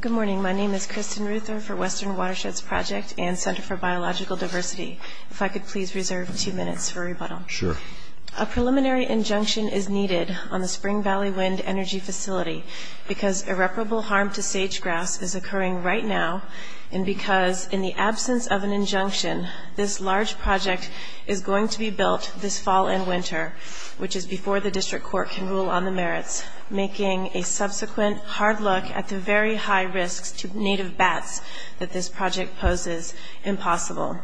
Good morning. My name is Kristen Ruther for Western Watersheds Project and Center for Biological Diversity. If I could please reserve two minutes for rebuttal. Sure. A preliminary injunction is needed on the Spring Valley Wind Energy Facility because irreparable harm to sage grass is occurring right now and because in the absence of an injunction this large project is going to be built this fall and winter, which is before the District Court can rule on the merits, making a subsequent hard look at the very high risks to native bats that this project poses impossible.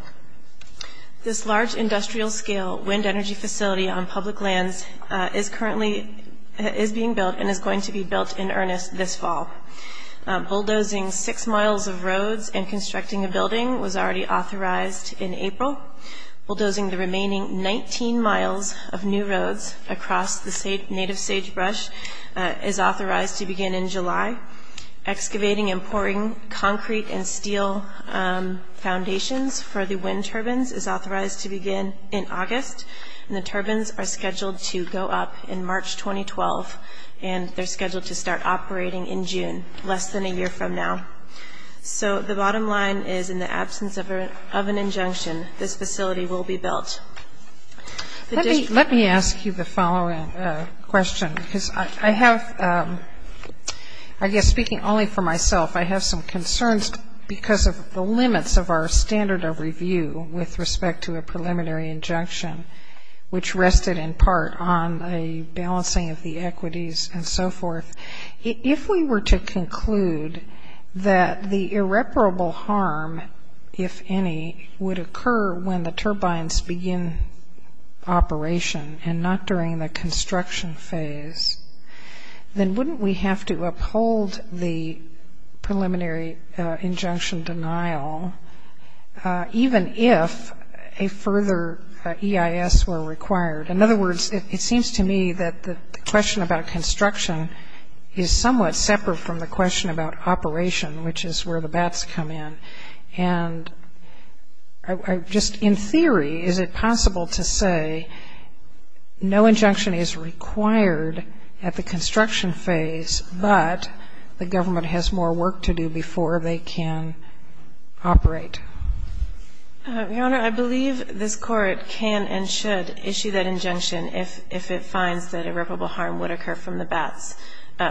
This large industrial scale wind energy facility on public lands is currently being built and is going to be built in earnest this fall. Bulldozing six miles of roads and constructing a building was already authorized in April. Bulldozing the remaining 19 miles of new roads across the native sagebrush is authorized to begin in July. Excavating and pouring concrete and steel foundations for the wind turbines is authorized to begin in August and the turbines are scheduled to go up in March 2012 and they're scheduled to start operating in June, less than a year from now. So the bottom line is in the absence of an injunction this facility will be built. Let me ask you the following question because I have, I guess speaking only for myself, I have some concerns because of the limits of our standard of review with respect to a preliminary injunction, which rested in part on a balancing of the equities and so forth. If we were to conclude that the irreparable harm, if any, would occur when the turbines begin operation and not during the construction phase, then wouldn't we have to uphold the preliminary injunction denial even if a further EIS were required? In other words, it seems to me that the question about construction is somewhat separate from the question about is it possible to say no injunction is required at the construction phase but the government has more work to do before they can operate? Your Honor, I believe this court can and should issue that injunction if it finds that irreparable harm would occur from the baths,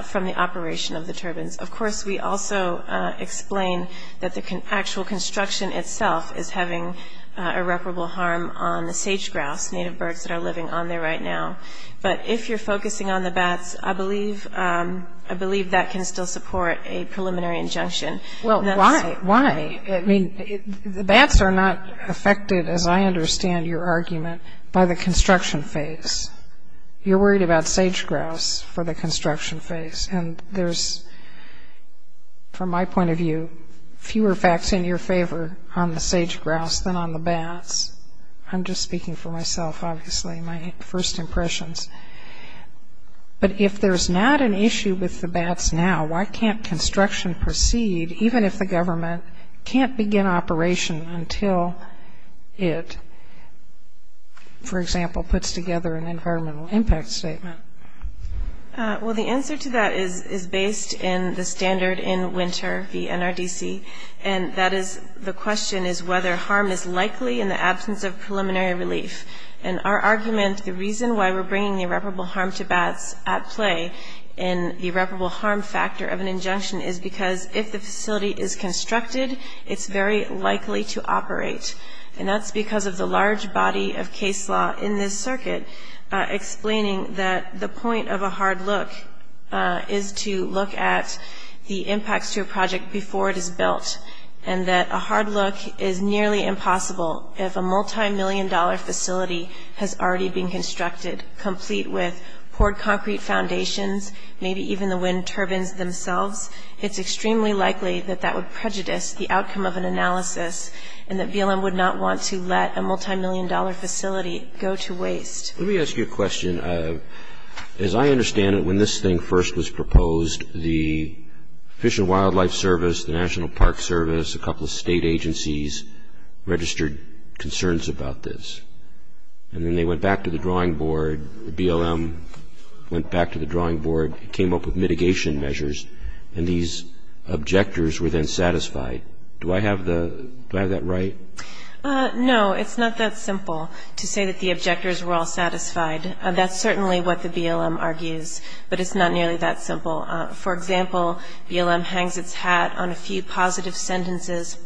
from the operation of the turbines. Of course, we also explain that the actual construction itself is having irreparable harm on the sage-grouse, native birds that are living on there right now. But if you're focusing on the baths, I believe that can still support a preliminary injunction. Well, why? I mean, the baths are not affected, as I understand your argument, by the construction phase. You're worried about sage-grouse for the construction phase and there's, from my point of view, fewer facts in your favor on the sage-grouse than on the baths. I'm just speaking for myself, obviously, my first impressions. But if there's not an issue with the baths now, why can't construction proceed even if the government can't begin operation until it, for example, puts together an environmental impact statement? Well, the answer to that is based in the standard in Winter v. NRDC. And that is, the question is whether harm is likely in the absence of preliminary relief. And our argument, the reason why we're bringing irreparable harm to baths at play in the irreparable harm factor of an injunction is because if the facility is constructed, it's very likely to operate. And that's because of the large body of case law in this circuit explaining that the point of a hard look is to look at the impacts to a project before it is built. And that a hard look is nearly impossible if a multimillion-dollar facility has already been constructed, complete with poured concrete foundations, maybe even the wind turbines themselves. It's extremely likely that that would prejudice the outcome of an analysis and that BLM would not want to let a multimillion-dollar facility go to waste. Let me ask you a question. As I understand it, when this thing first was proposed, the Fish and Wildlife Service, the National Park Service, a couple of state agencies registered concerns about this. And then they went back to the drawing board, the BLM went back to the drawing board, came up with mitigation measures, and these objectors were then satisfied. Do I have that right? No, it's not that simple to say that the objectors were all satisfied. That's certainly what the BLM argues, but it's not nearly that simple. For example, BLM hangs its hat on a few positive sentences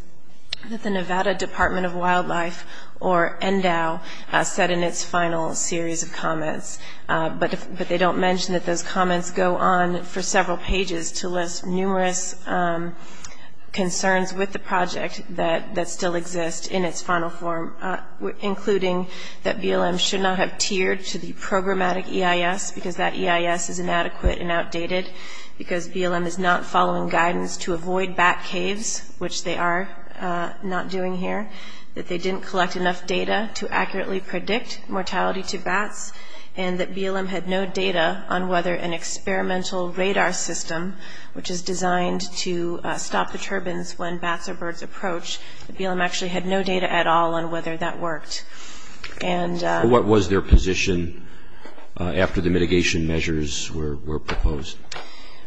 that the Nevada Department of Wildlife, or NDOW, said in its final series of comments. But they don't mention that those comments go on for several pages to list numerous concerns with the project that still exist in its final form, including that BLM should not have tiered to the programmatic EIS because that EIS is inadequate and outdated, because BLM is not following guidance to avoid bat caves, which they are not doing here, that they didn't collect enough data to accurately predict mortality to bats, and that BLM had no data on whether an experimental radar system, which is designed to stop the turbines when bats or birds approach, that BLM actually had no data at all on whether that worked. What was their position after the mitigation measures were proposed?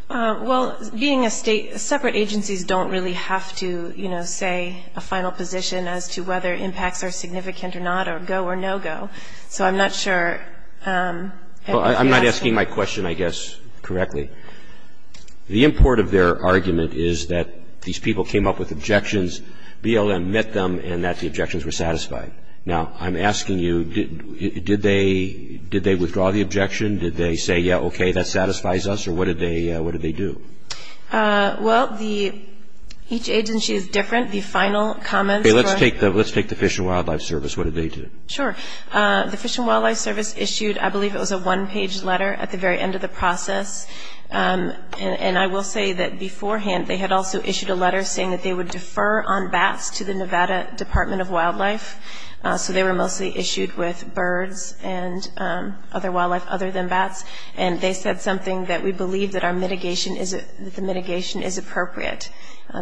Well, being a state, separate agencies don't really have to say a final position as to whether impacts are significant or not, or go or no-go. So I'm not sure if that's... I'm not asking my question, I guess, correctly. The import of their argument is that these people came up with objections, BLM met them, and that the objections were satisfied. Now, I'm asking you, did they withdraw the objection? Did they say, yeah, okay, that satisfies us? Or what did they do? Well, each agency is different. The final comments were... Okay, let's take the Fish and Wildlife Service. What did they do? Sure. The Fish and Wildlife Service issued, I believe it was a one-page letter at the very end of the process. And I will say that beforehand, they had also issued a letter saying that they would defer on bats to the Nevada Department of Wildlife. So they were mostly issued with birds and other wildlife other than bats. And they said something that we believe that our mitigation is... that the mitigation is appropriate.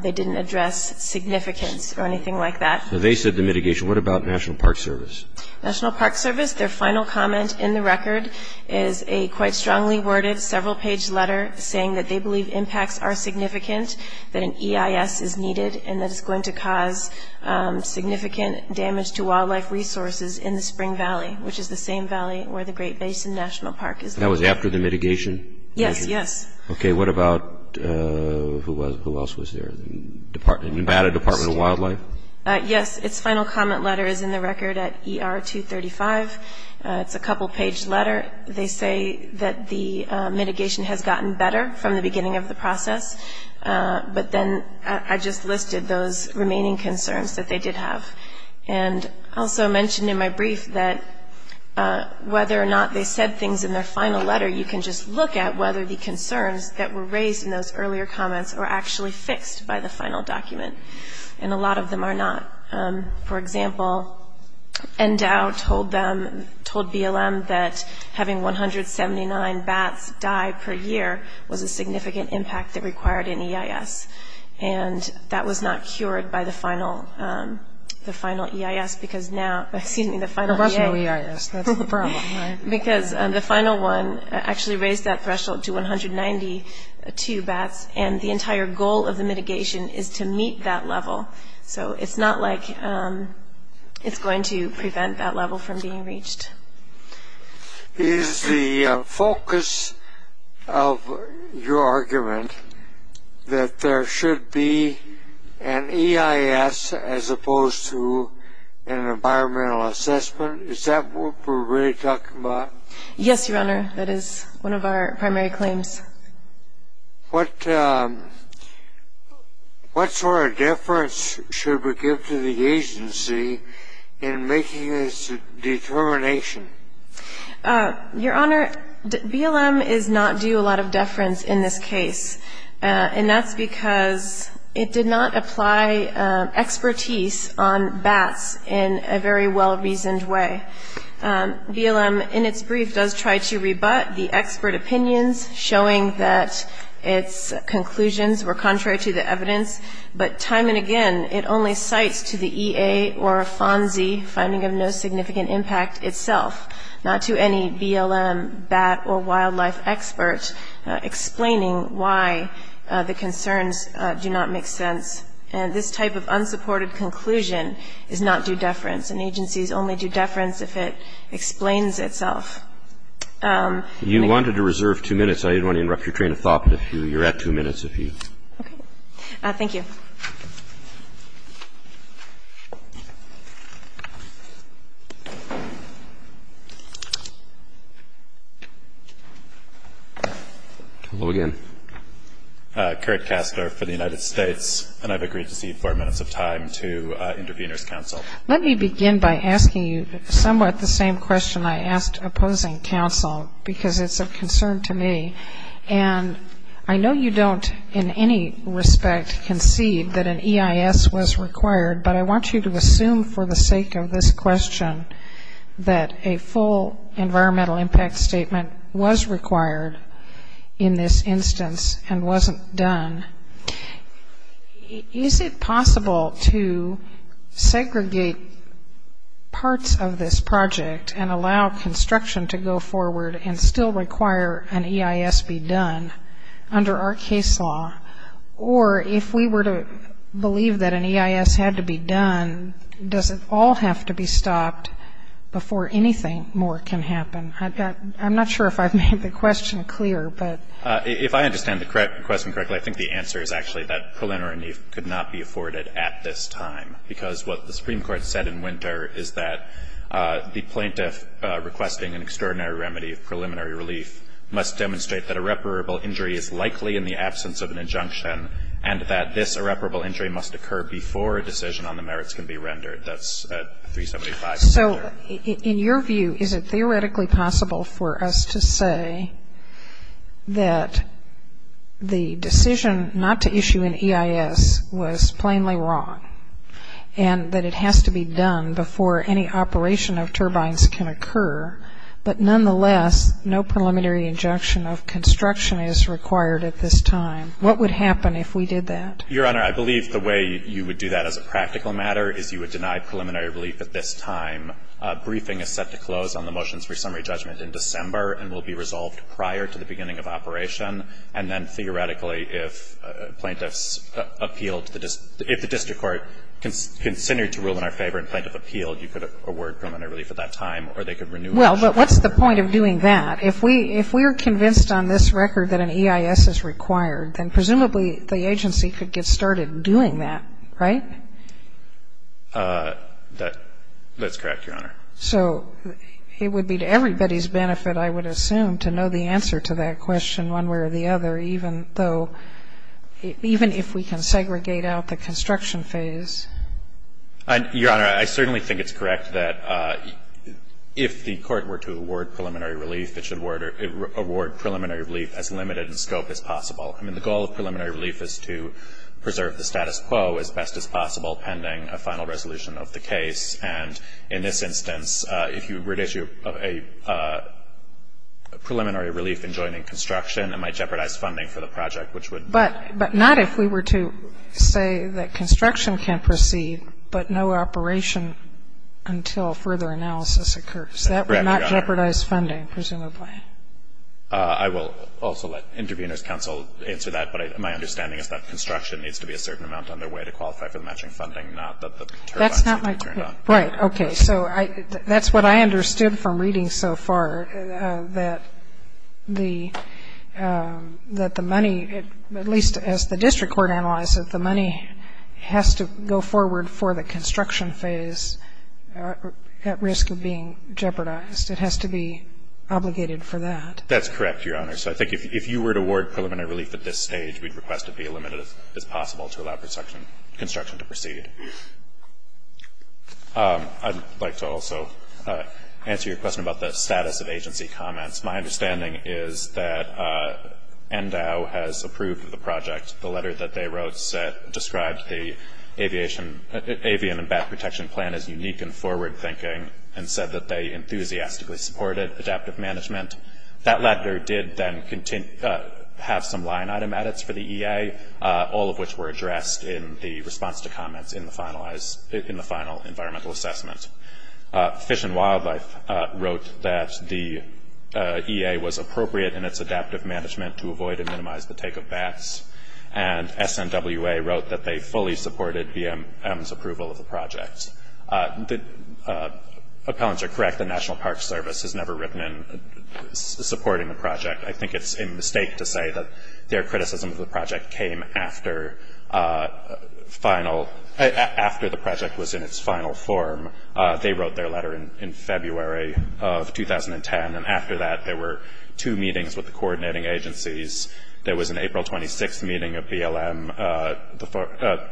They didn't address significance or anything like that. So they said the mitigation. What about National Park Service? National Park Service, their final comment in the record is a quite strongly worded, several-page letter saying that they believe impacts are significant, that an EIS is needed, and that it's going to cause significant damage to wildlife resources in the Spring Valley, which is the same valley where the Great Basin National Park is. That was after the mitigation? Yes, yes. Okay, what about... who else was there? Nevada Department of Wildlife? Yes, its final comment letter is in the record at ER 235. It's a couple-page letter. They say that the mitigation has gotten better from the beginning of the process. But then I just listed those remaining concerns that they did have. And I also mentioned in my brief that whether or not they said things in their final letter, you can just look at whether the concerns that were raised in those earlier comments were actually fixed by the final document. And a lot of them are not. For example, NDOW told BLM that having 179 bats die per year was a significant impact that required an EIS. And that was not cured by the final EIS because now... excuse me, the final EA... There was no EIS. That's the problem, right? Because the final one actually raised that threshold to 192 bats. And the entire goal of the mitigation is to meet that level. So it's not like it's going to prevent that level from being reached. Is the focus of your argument that there should be an EIS as opposed to an environmental assessment? Is that what we're really talking about? Yes, Your Honor. That is one of our primary claims. What sort of deference should we give to the agency in making this determination? Your Honor, BLM is not due a lot of deference in this case. And that's because it did not apply expertise on bats in a very well-reasoned way. BLM, in its brief, does try to rebut the expert opinions, showing that its conclusions were contrary to the evidence. But time and again, it only cites to the EA or FONSI finding of no significant impact itself, not to any BLM bat or wildlife expert, explaining why the concerns do not make sense. And this type of unsupported conclusion is not due deference. An agency is only due deference if it explains itself. You wanted to reserve two minutes. I didn't want to interrupt your train of thought, but you're at two minutes, if you need. Okay. Thank you. Hello again. Kurt Kastner for the United States. And I've agreed to cede four minutes of time to intervener's counsel. Let me begin by asking you somewhat the same question I asked opposing counsel, because it's of concern to me. And I know you don't, in any respect, concede that an EIS was required, but I want you to assume for the sake of this question that a full environmental impact statement was required in this instance and wasn't done. Is it possible to segregate parts of this project and allow construction to go forward and still require an EIS be done under our case law? Or if we were to believe that an EIS had to be done, does it all have to be stopped before anything more can happen? I'm not sure if I've made the question clear, but If I understand the question correctly, I think the answer is actually that preliminary relief could not be afforded at this time. Because what the Supreme Court said in winter is that the plaintiff requesting an extraordinary remedy of preliminary relief must demonstrate that irreparable injury is likely in the absence of an injunction, and that this irreparable injury must occur before a decision on the merits can be rendered. That's 375. So in your view, is it theoretically possible for us to say that the decision not to issue an EIS was plainly wrong and that it has to be done before any operation of turbines can occur, but nonetheless, no preliminary injunction of construction is required at this time? What would happen if we did that? Your Honor, I believe the way you would do that as a practical matter is you would deny preliminary relief at this time. A briefing is set to close on the motions for summary judgment in December and will be resolved prior to the beginning of operation. And then theoretically, if plaintiffs appeal to the district court, if the district court considered to rule in our favor and plaintiff appealed, you could award preliminary relief at that time, or they could renew it. Well, but what's the point of doing that? If we are convinced on this record that an EIS is required, then presumably the agency could get started doing that, right? That's correct, Your Honor. So it would be to everybody's benefit, I would assume, to know the answer to that question one way or the other, even though, even if we can segregate out the construction phase. Your Honor, I certainly think it's correct that if the court were to award preliminary relief, it should award preliminary relief as limited in scope as possible. I mean, the goal of preliminary relief is to preserve the status quo as best as possible pending a final resolution of the case, and in this instance, if you were to issue a preliminary relief in joining construction, it might jeopardize funding for the project, which would be the case. But not if we were to say that construction can proceed, but no operation until further analysis occurs. That would not jeopardize funding, presumably. I will also let Intervenors Council answer that, but my understanding is that construction needs to be a certain amount underway to qualify for the matching funding, not that the turbines need to be turned on. Right. Okay. So that's what I understood from reading so far, that the money, at least as the district court analyzed it, the money has to go forward for the construction phase at risk of being jeopardized. It has to be obligated for that. That's correct, Your Honor. So I think if you were to award preliminary relief at this stage, we'd request it be as limited as possible to allow construction to proceed. I'd like to also answer your question about the status of agency comments. My understanding is that NDOW has approved the project. The letter that they wrote described the avian and bat protection plan as unique and forward thinking and said that they enthusiastically supported adaptive management. That letter did then have some line item edits for the EA, all of which were addressed in the response to comments in the final environmental assessment. Fish and Wildlife wrote that the EA was appropriate in its adaptive management to avoid and minimize the take of bats, and SNWA wrote that they fully supported BM's approval of the project. The appellants are correct. The National Park Service has never written in supporting the project. I think it's a mistake to say that their criticism of the project came after the project was in its final form. They wrote their letter in February of 2010, and after that there were two meetings with the coordinating agencies. There was an April 26th meeting of BLM,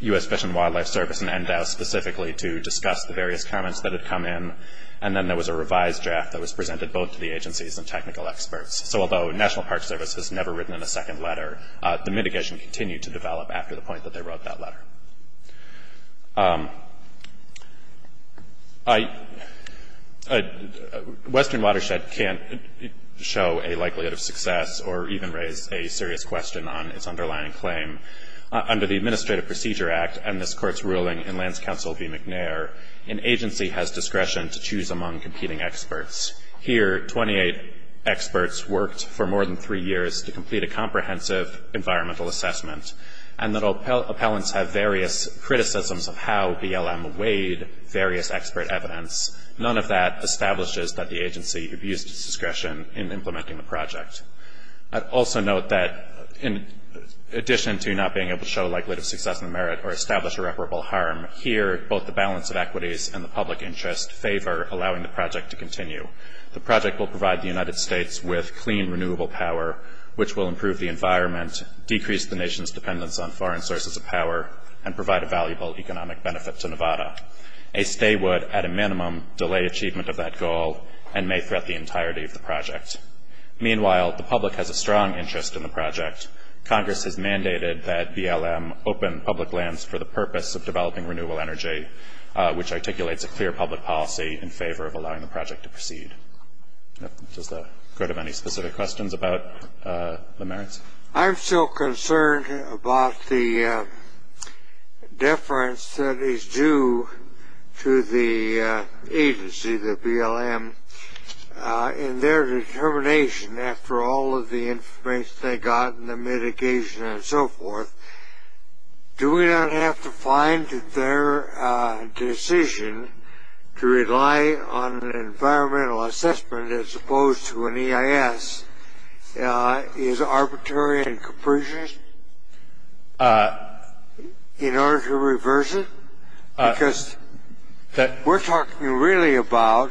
U.S. Fish and Wildlife Service, and NDOW specifically to discuss the various comments that had come in, and then there was a revised draft that was presented both to the agencies and technical experts. So although National Park Service has never written in a second letter, the mitigation continued to develop after the point that they wrote that letter. Western Watershed can't show a likelihood of success or even raise a serious question on its underlying claim. Under the Administrative Procedure Act and this court's ruling in Lands Council v. McNair, an agency has discretion to choose among competing experts. Here 28 experts worked for more than three years to complete a comprehensive environmental assessment, and the appellants have various criticisms of how BLM weighed various expert evidence. None of that establishes that the agency abused its discretion in implementing the project. I'd also note that in addition to not being able to show a likelihood of success and merit or establish irreparable harm, here both the balance of equities and the public interest favor allowing the project to continue. The project will provide the United States with clean, renewable power, which will improve the environment, decrease the nation's dependence on foreign sources of power, and provide a valuable economic benefit to Nevada. A stay would, at a minimum, delay achievement of that goal and may threat the entirety of the project. Meanwhile, the public has a strong interest in the project. Congress has mandated that BLM open public lands for the purpose of developing renewable energy, which articulates a clear public policy in favor of allowing the project to proceed. Does the court have any specific questions about the merits? I'm still concerned about the deference that is due to the agency, the BLM, in their determination after all of the information they got and the mitigation and so forth. Do we not have to find that their decision to rely on an environmental assessment as opposed to an EIS is arbitrary and capricious in order to reverse it? Because we're talking really about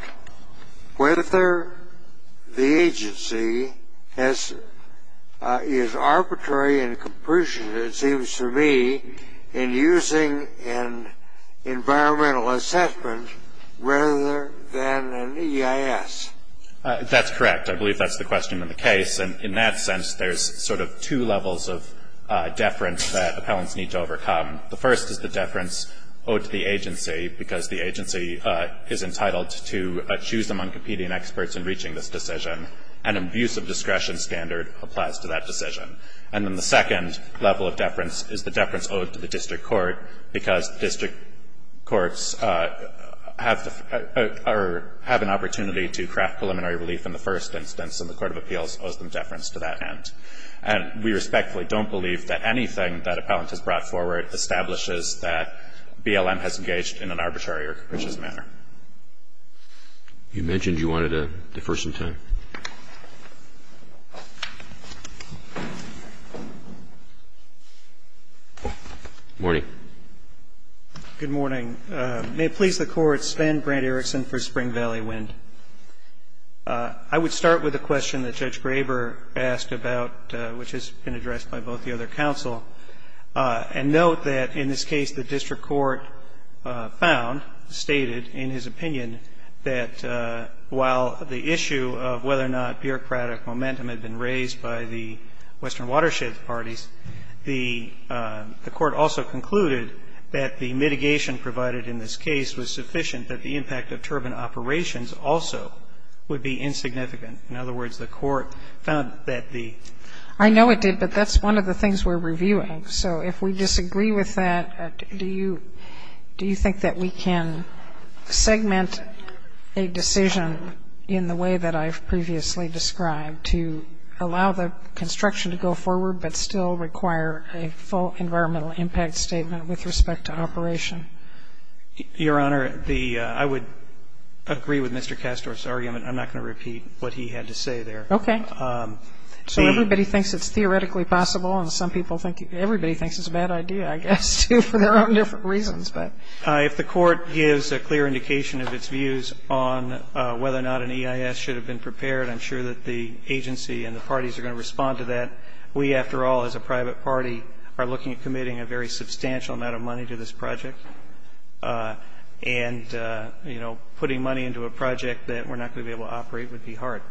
whether the agency is arbitrary and capricious, it seems to me, in using an environmental assessment rather than an EIS. That's correct. I believe that's the question in the case. And in that sense, there's sort of two levels of deference that appellants need to overcome. The first is the deference owed to the agency, because the agency is entitled to choose among competing experts in reaching this decision. An abuse of discretion standard applies to that decision. And then the second level of deference is the deference owed to the district court, because district courts have an opportunity to craft preliminary relief in the first instance and the Court of Appeals owes them deference to that end. And we respectfully don't believe that anything that an appellant has brought forward establishes that BLM has engaged in an arbitrary or capricious manner. You mentioned you wanted to defer some time. Good morning. Good morning. May it please the Court, Stan Brand-Erickson for Spring Valley Wind. I would like to start with a question that Judge Graber asked about, which has been addressed by both the other counsel, and note that in this case the district court found, stated in his opinion, that while the issue of whether or not bureaucratic momentum had been raised by the Western Watershed parties, the court also concluded that the mitigation provided in this case was sufficient that the impact of turbine operations also would be insignificant. In other words, the court found that the ---- I know it did, but that's one of the things we're reviewing. So if we disagree with that, do you think that we can segment a decision in the way that I've previously described to allow the construction to go forward but still require a full environmental impact statement with respect to operation? Your Honor, the ---- I would agree with Mr. Kastorf's argument. I'm not going to repeat what he had to say there. Okay. So everybody thinks it's theoretically possible, and some people think you ---- everybody thinks it's a bad idea, I guess, too, for their own different reasons. But ---- If the Court gives a clear indication of its views on whether or not an EIS should have been prepared, I'm sure that the agency and the parties are going to respond to that. We, after all, as a private party, are looking at committing a very substantial amount of money to this project. And, you know, putting money into a project that we're not going to be able to operate would be hard.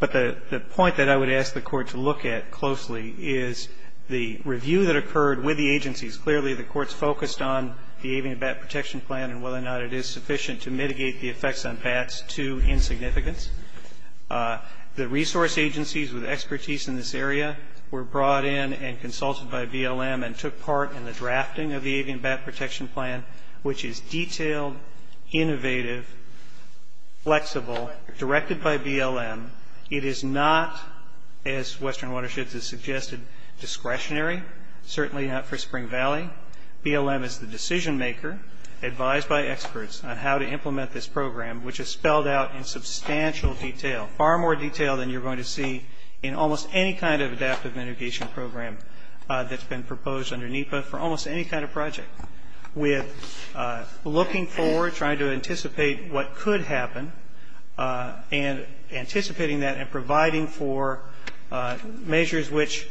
But the point that I would ask the Court to look at closely is the review that occurred with the agencies. Clearly, the Court's focused on the avian bat protection plan and whether or not it is sufficient to mitigate the effects on bats to insignificance. The resource agencies with expertise in this area were brought in and consulted by BLM and took part in the drafting of the avian bat protection plan, which is detailed, innovative, flexible, directed by BLM. It is not, as Western Watersheds has suggested, discretionary, certainly not for experts, on how to implement this program, which is spelled out in substantial detail, far more detail than you're going to see in almost any kind of adaptive mitigation program that's been proposed under NEPA for almost any kind of project, with looking forward, trying to anticipate what could happen, and anticipating that and providing for measures which,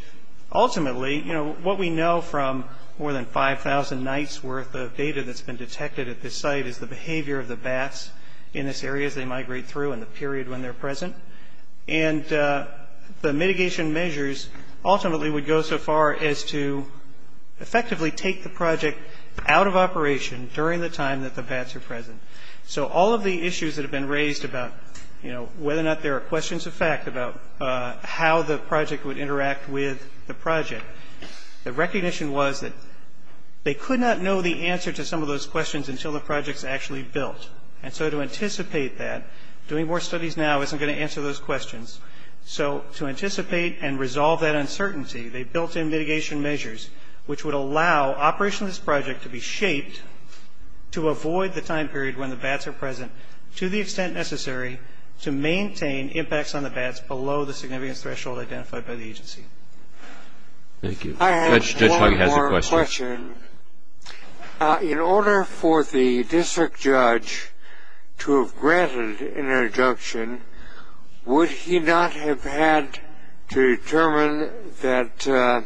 ultimately, you know, what we know from more than 5,000 nights worth of data that's been detected at this site is the behavior of the bats in this area as they migrate through and the period when they're present. And the mitigation measures ultimately would go so far as to effectively take the project out of operation during the time that the bats are present. So all of the issues that have been raised about, you know, whether or not there are questions of fact about how the project would interact with the project, the recognition was that they could not know the answer to some of those questions until the project's actually built. And so to anticipate that, doing more studies now isn't going to answer those questions. So to anticipate and resolve that uncertainty, they built in mitigation measures which would allow operation of this project to be shaped to avoid the time period when the bats are present to the extent necessary to maintain impacts on the bats below the significance threshold identified by the agency. I have one more question. In order for the district judge to have granted an injunction, would he not have had to determine that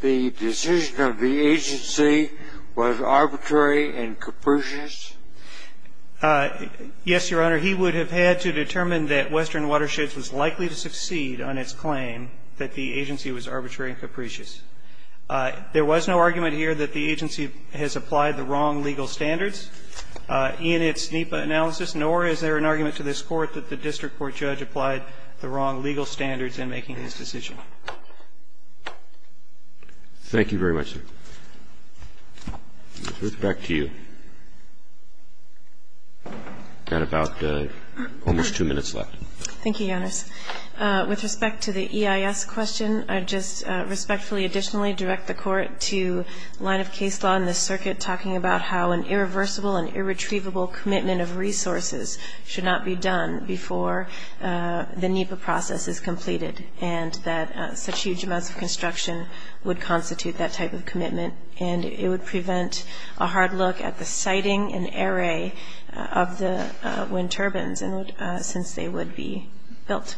the decision of the agency was arbitrary and capricious? Yes, Your Honor. He would have had to determine that Western Watersheds was likely to succeed on its claim that the agency was arbitrary and capricious. There was no argument here that the agency has applied the wrong legal standards in its NEPA analysis, nor is there an argument to this Court that the district court judge applied the wrong legal standards in making this decision. Thank you very much, sir. With respect to you, we've got about almost two minutes left. Thank you, Your Honor. With respect to the EIS question, I just respectfully additionally direct the Court to line of case law in this circuit talking about how an irreversible and irretrievable commitment of resources should not be done before the NEPA process is completed, and that such huge amounts of construction would constitute that type of commitment, and it would prevent a hard look at the siting and array of the wind turbines since they would be built.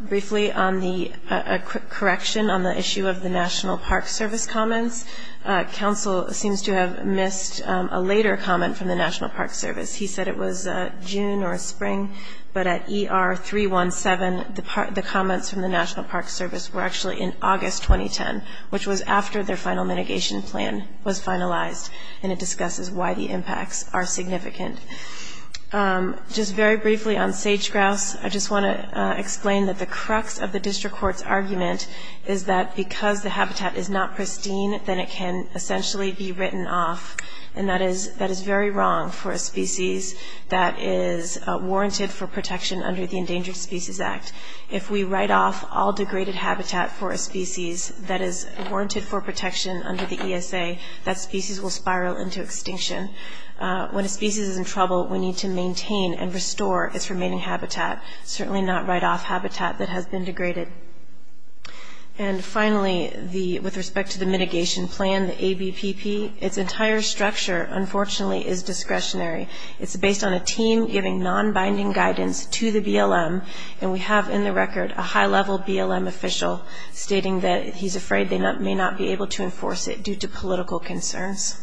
Briefly, a correction on the issue of the National Park Service comments. Counsel seems to have missed a later comment from the National Park Service. He said it was June or Spring, but at ER 317, the comments from the National Park Service were actually in August 2010, which was after their final mitigation plan was finalized, and it discusses why the impacts are significant. Just very briefly on sage-grouse, I just want to explain that the crux of the district court's argument is that because the habitat is not pristine, then it can essentially be written off, and that is very wrong for a species that is warranted for protection under the Endangered Species Act. If we write off all degraded habitat for a species that is warranted for protection under the ESA, that species will spiral into extinction. When a species is in trouble, we need to maintain and restore its remaining habitat, certainly not write off habitat that has been degraded. And finally, with respect to the mitigation plan, the ABPP, its entire structure, unfortunately, is discretionary. It's based on a team giving non-binding guidance to the BLM, and we have in the record a high-level BLM official stating that he's afraid they may not be able to enforce it due to political concerns.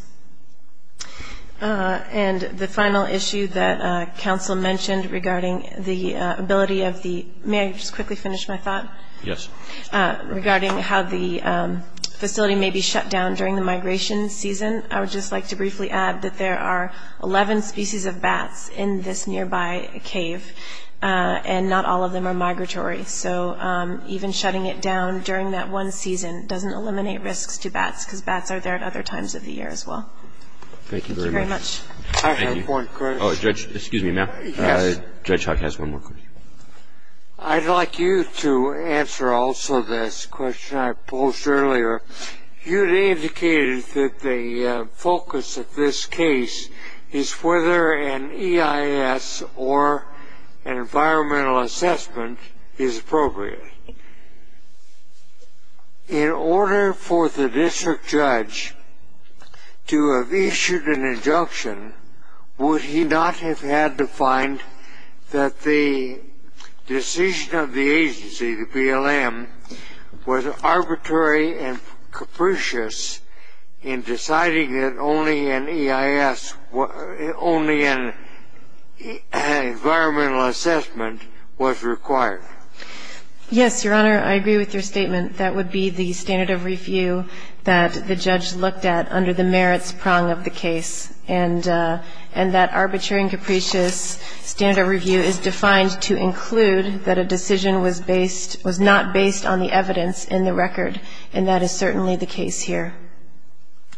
And the final issue that counsel mentioned regarding the ability of the, may I just quickly finish my thought? Yes. Regarding how the facility may be shut down during the migration season, I would just like to briefly add that there are 11 species of bats in this nearby cave, and not all of them are migratory. So even shutting it down during that one season doesn't eliminate risks to bats, because bats are there at other times of the year as well. Thank you very much. Thank you very much. I have one question. Oh, Judge, excuse me, ma'am. Yes. Judge Hawke has one more question. I'd like you to answer also this question I posed earlier. You had indicated that the focus of this case is whether an EIS or an environmental assessment is appropriate. In order for the district judge to have issued an injunction, would he not have had to find that the decision of the agency, the BLM, was arbitrary and capricious in deciding that only an EIS, only an environmental assessment was required? Yes, Your Honor, I agree with your statement. That would be the standard of review that the judge looked at under the merits prong of the case. And that arbitrary and capricious standard of review is defined to include that a decision was not based on the evidence in the record, and that is certainly the case here.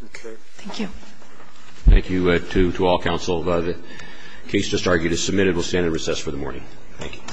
Okay. Thank you. Thank you to all counsel. The case just argued is submitted. We'll stand in recess for the morning. Thank you. All rise.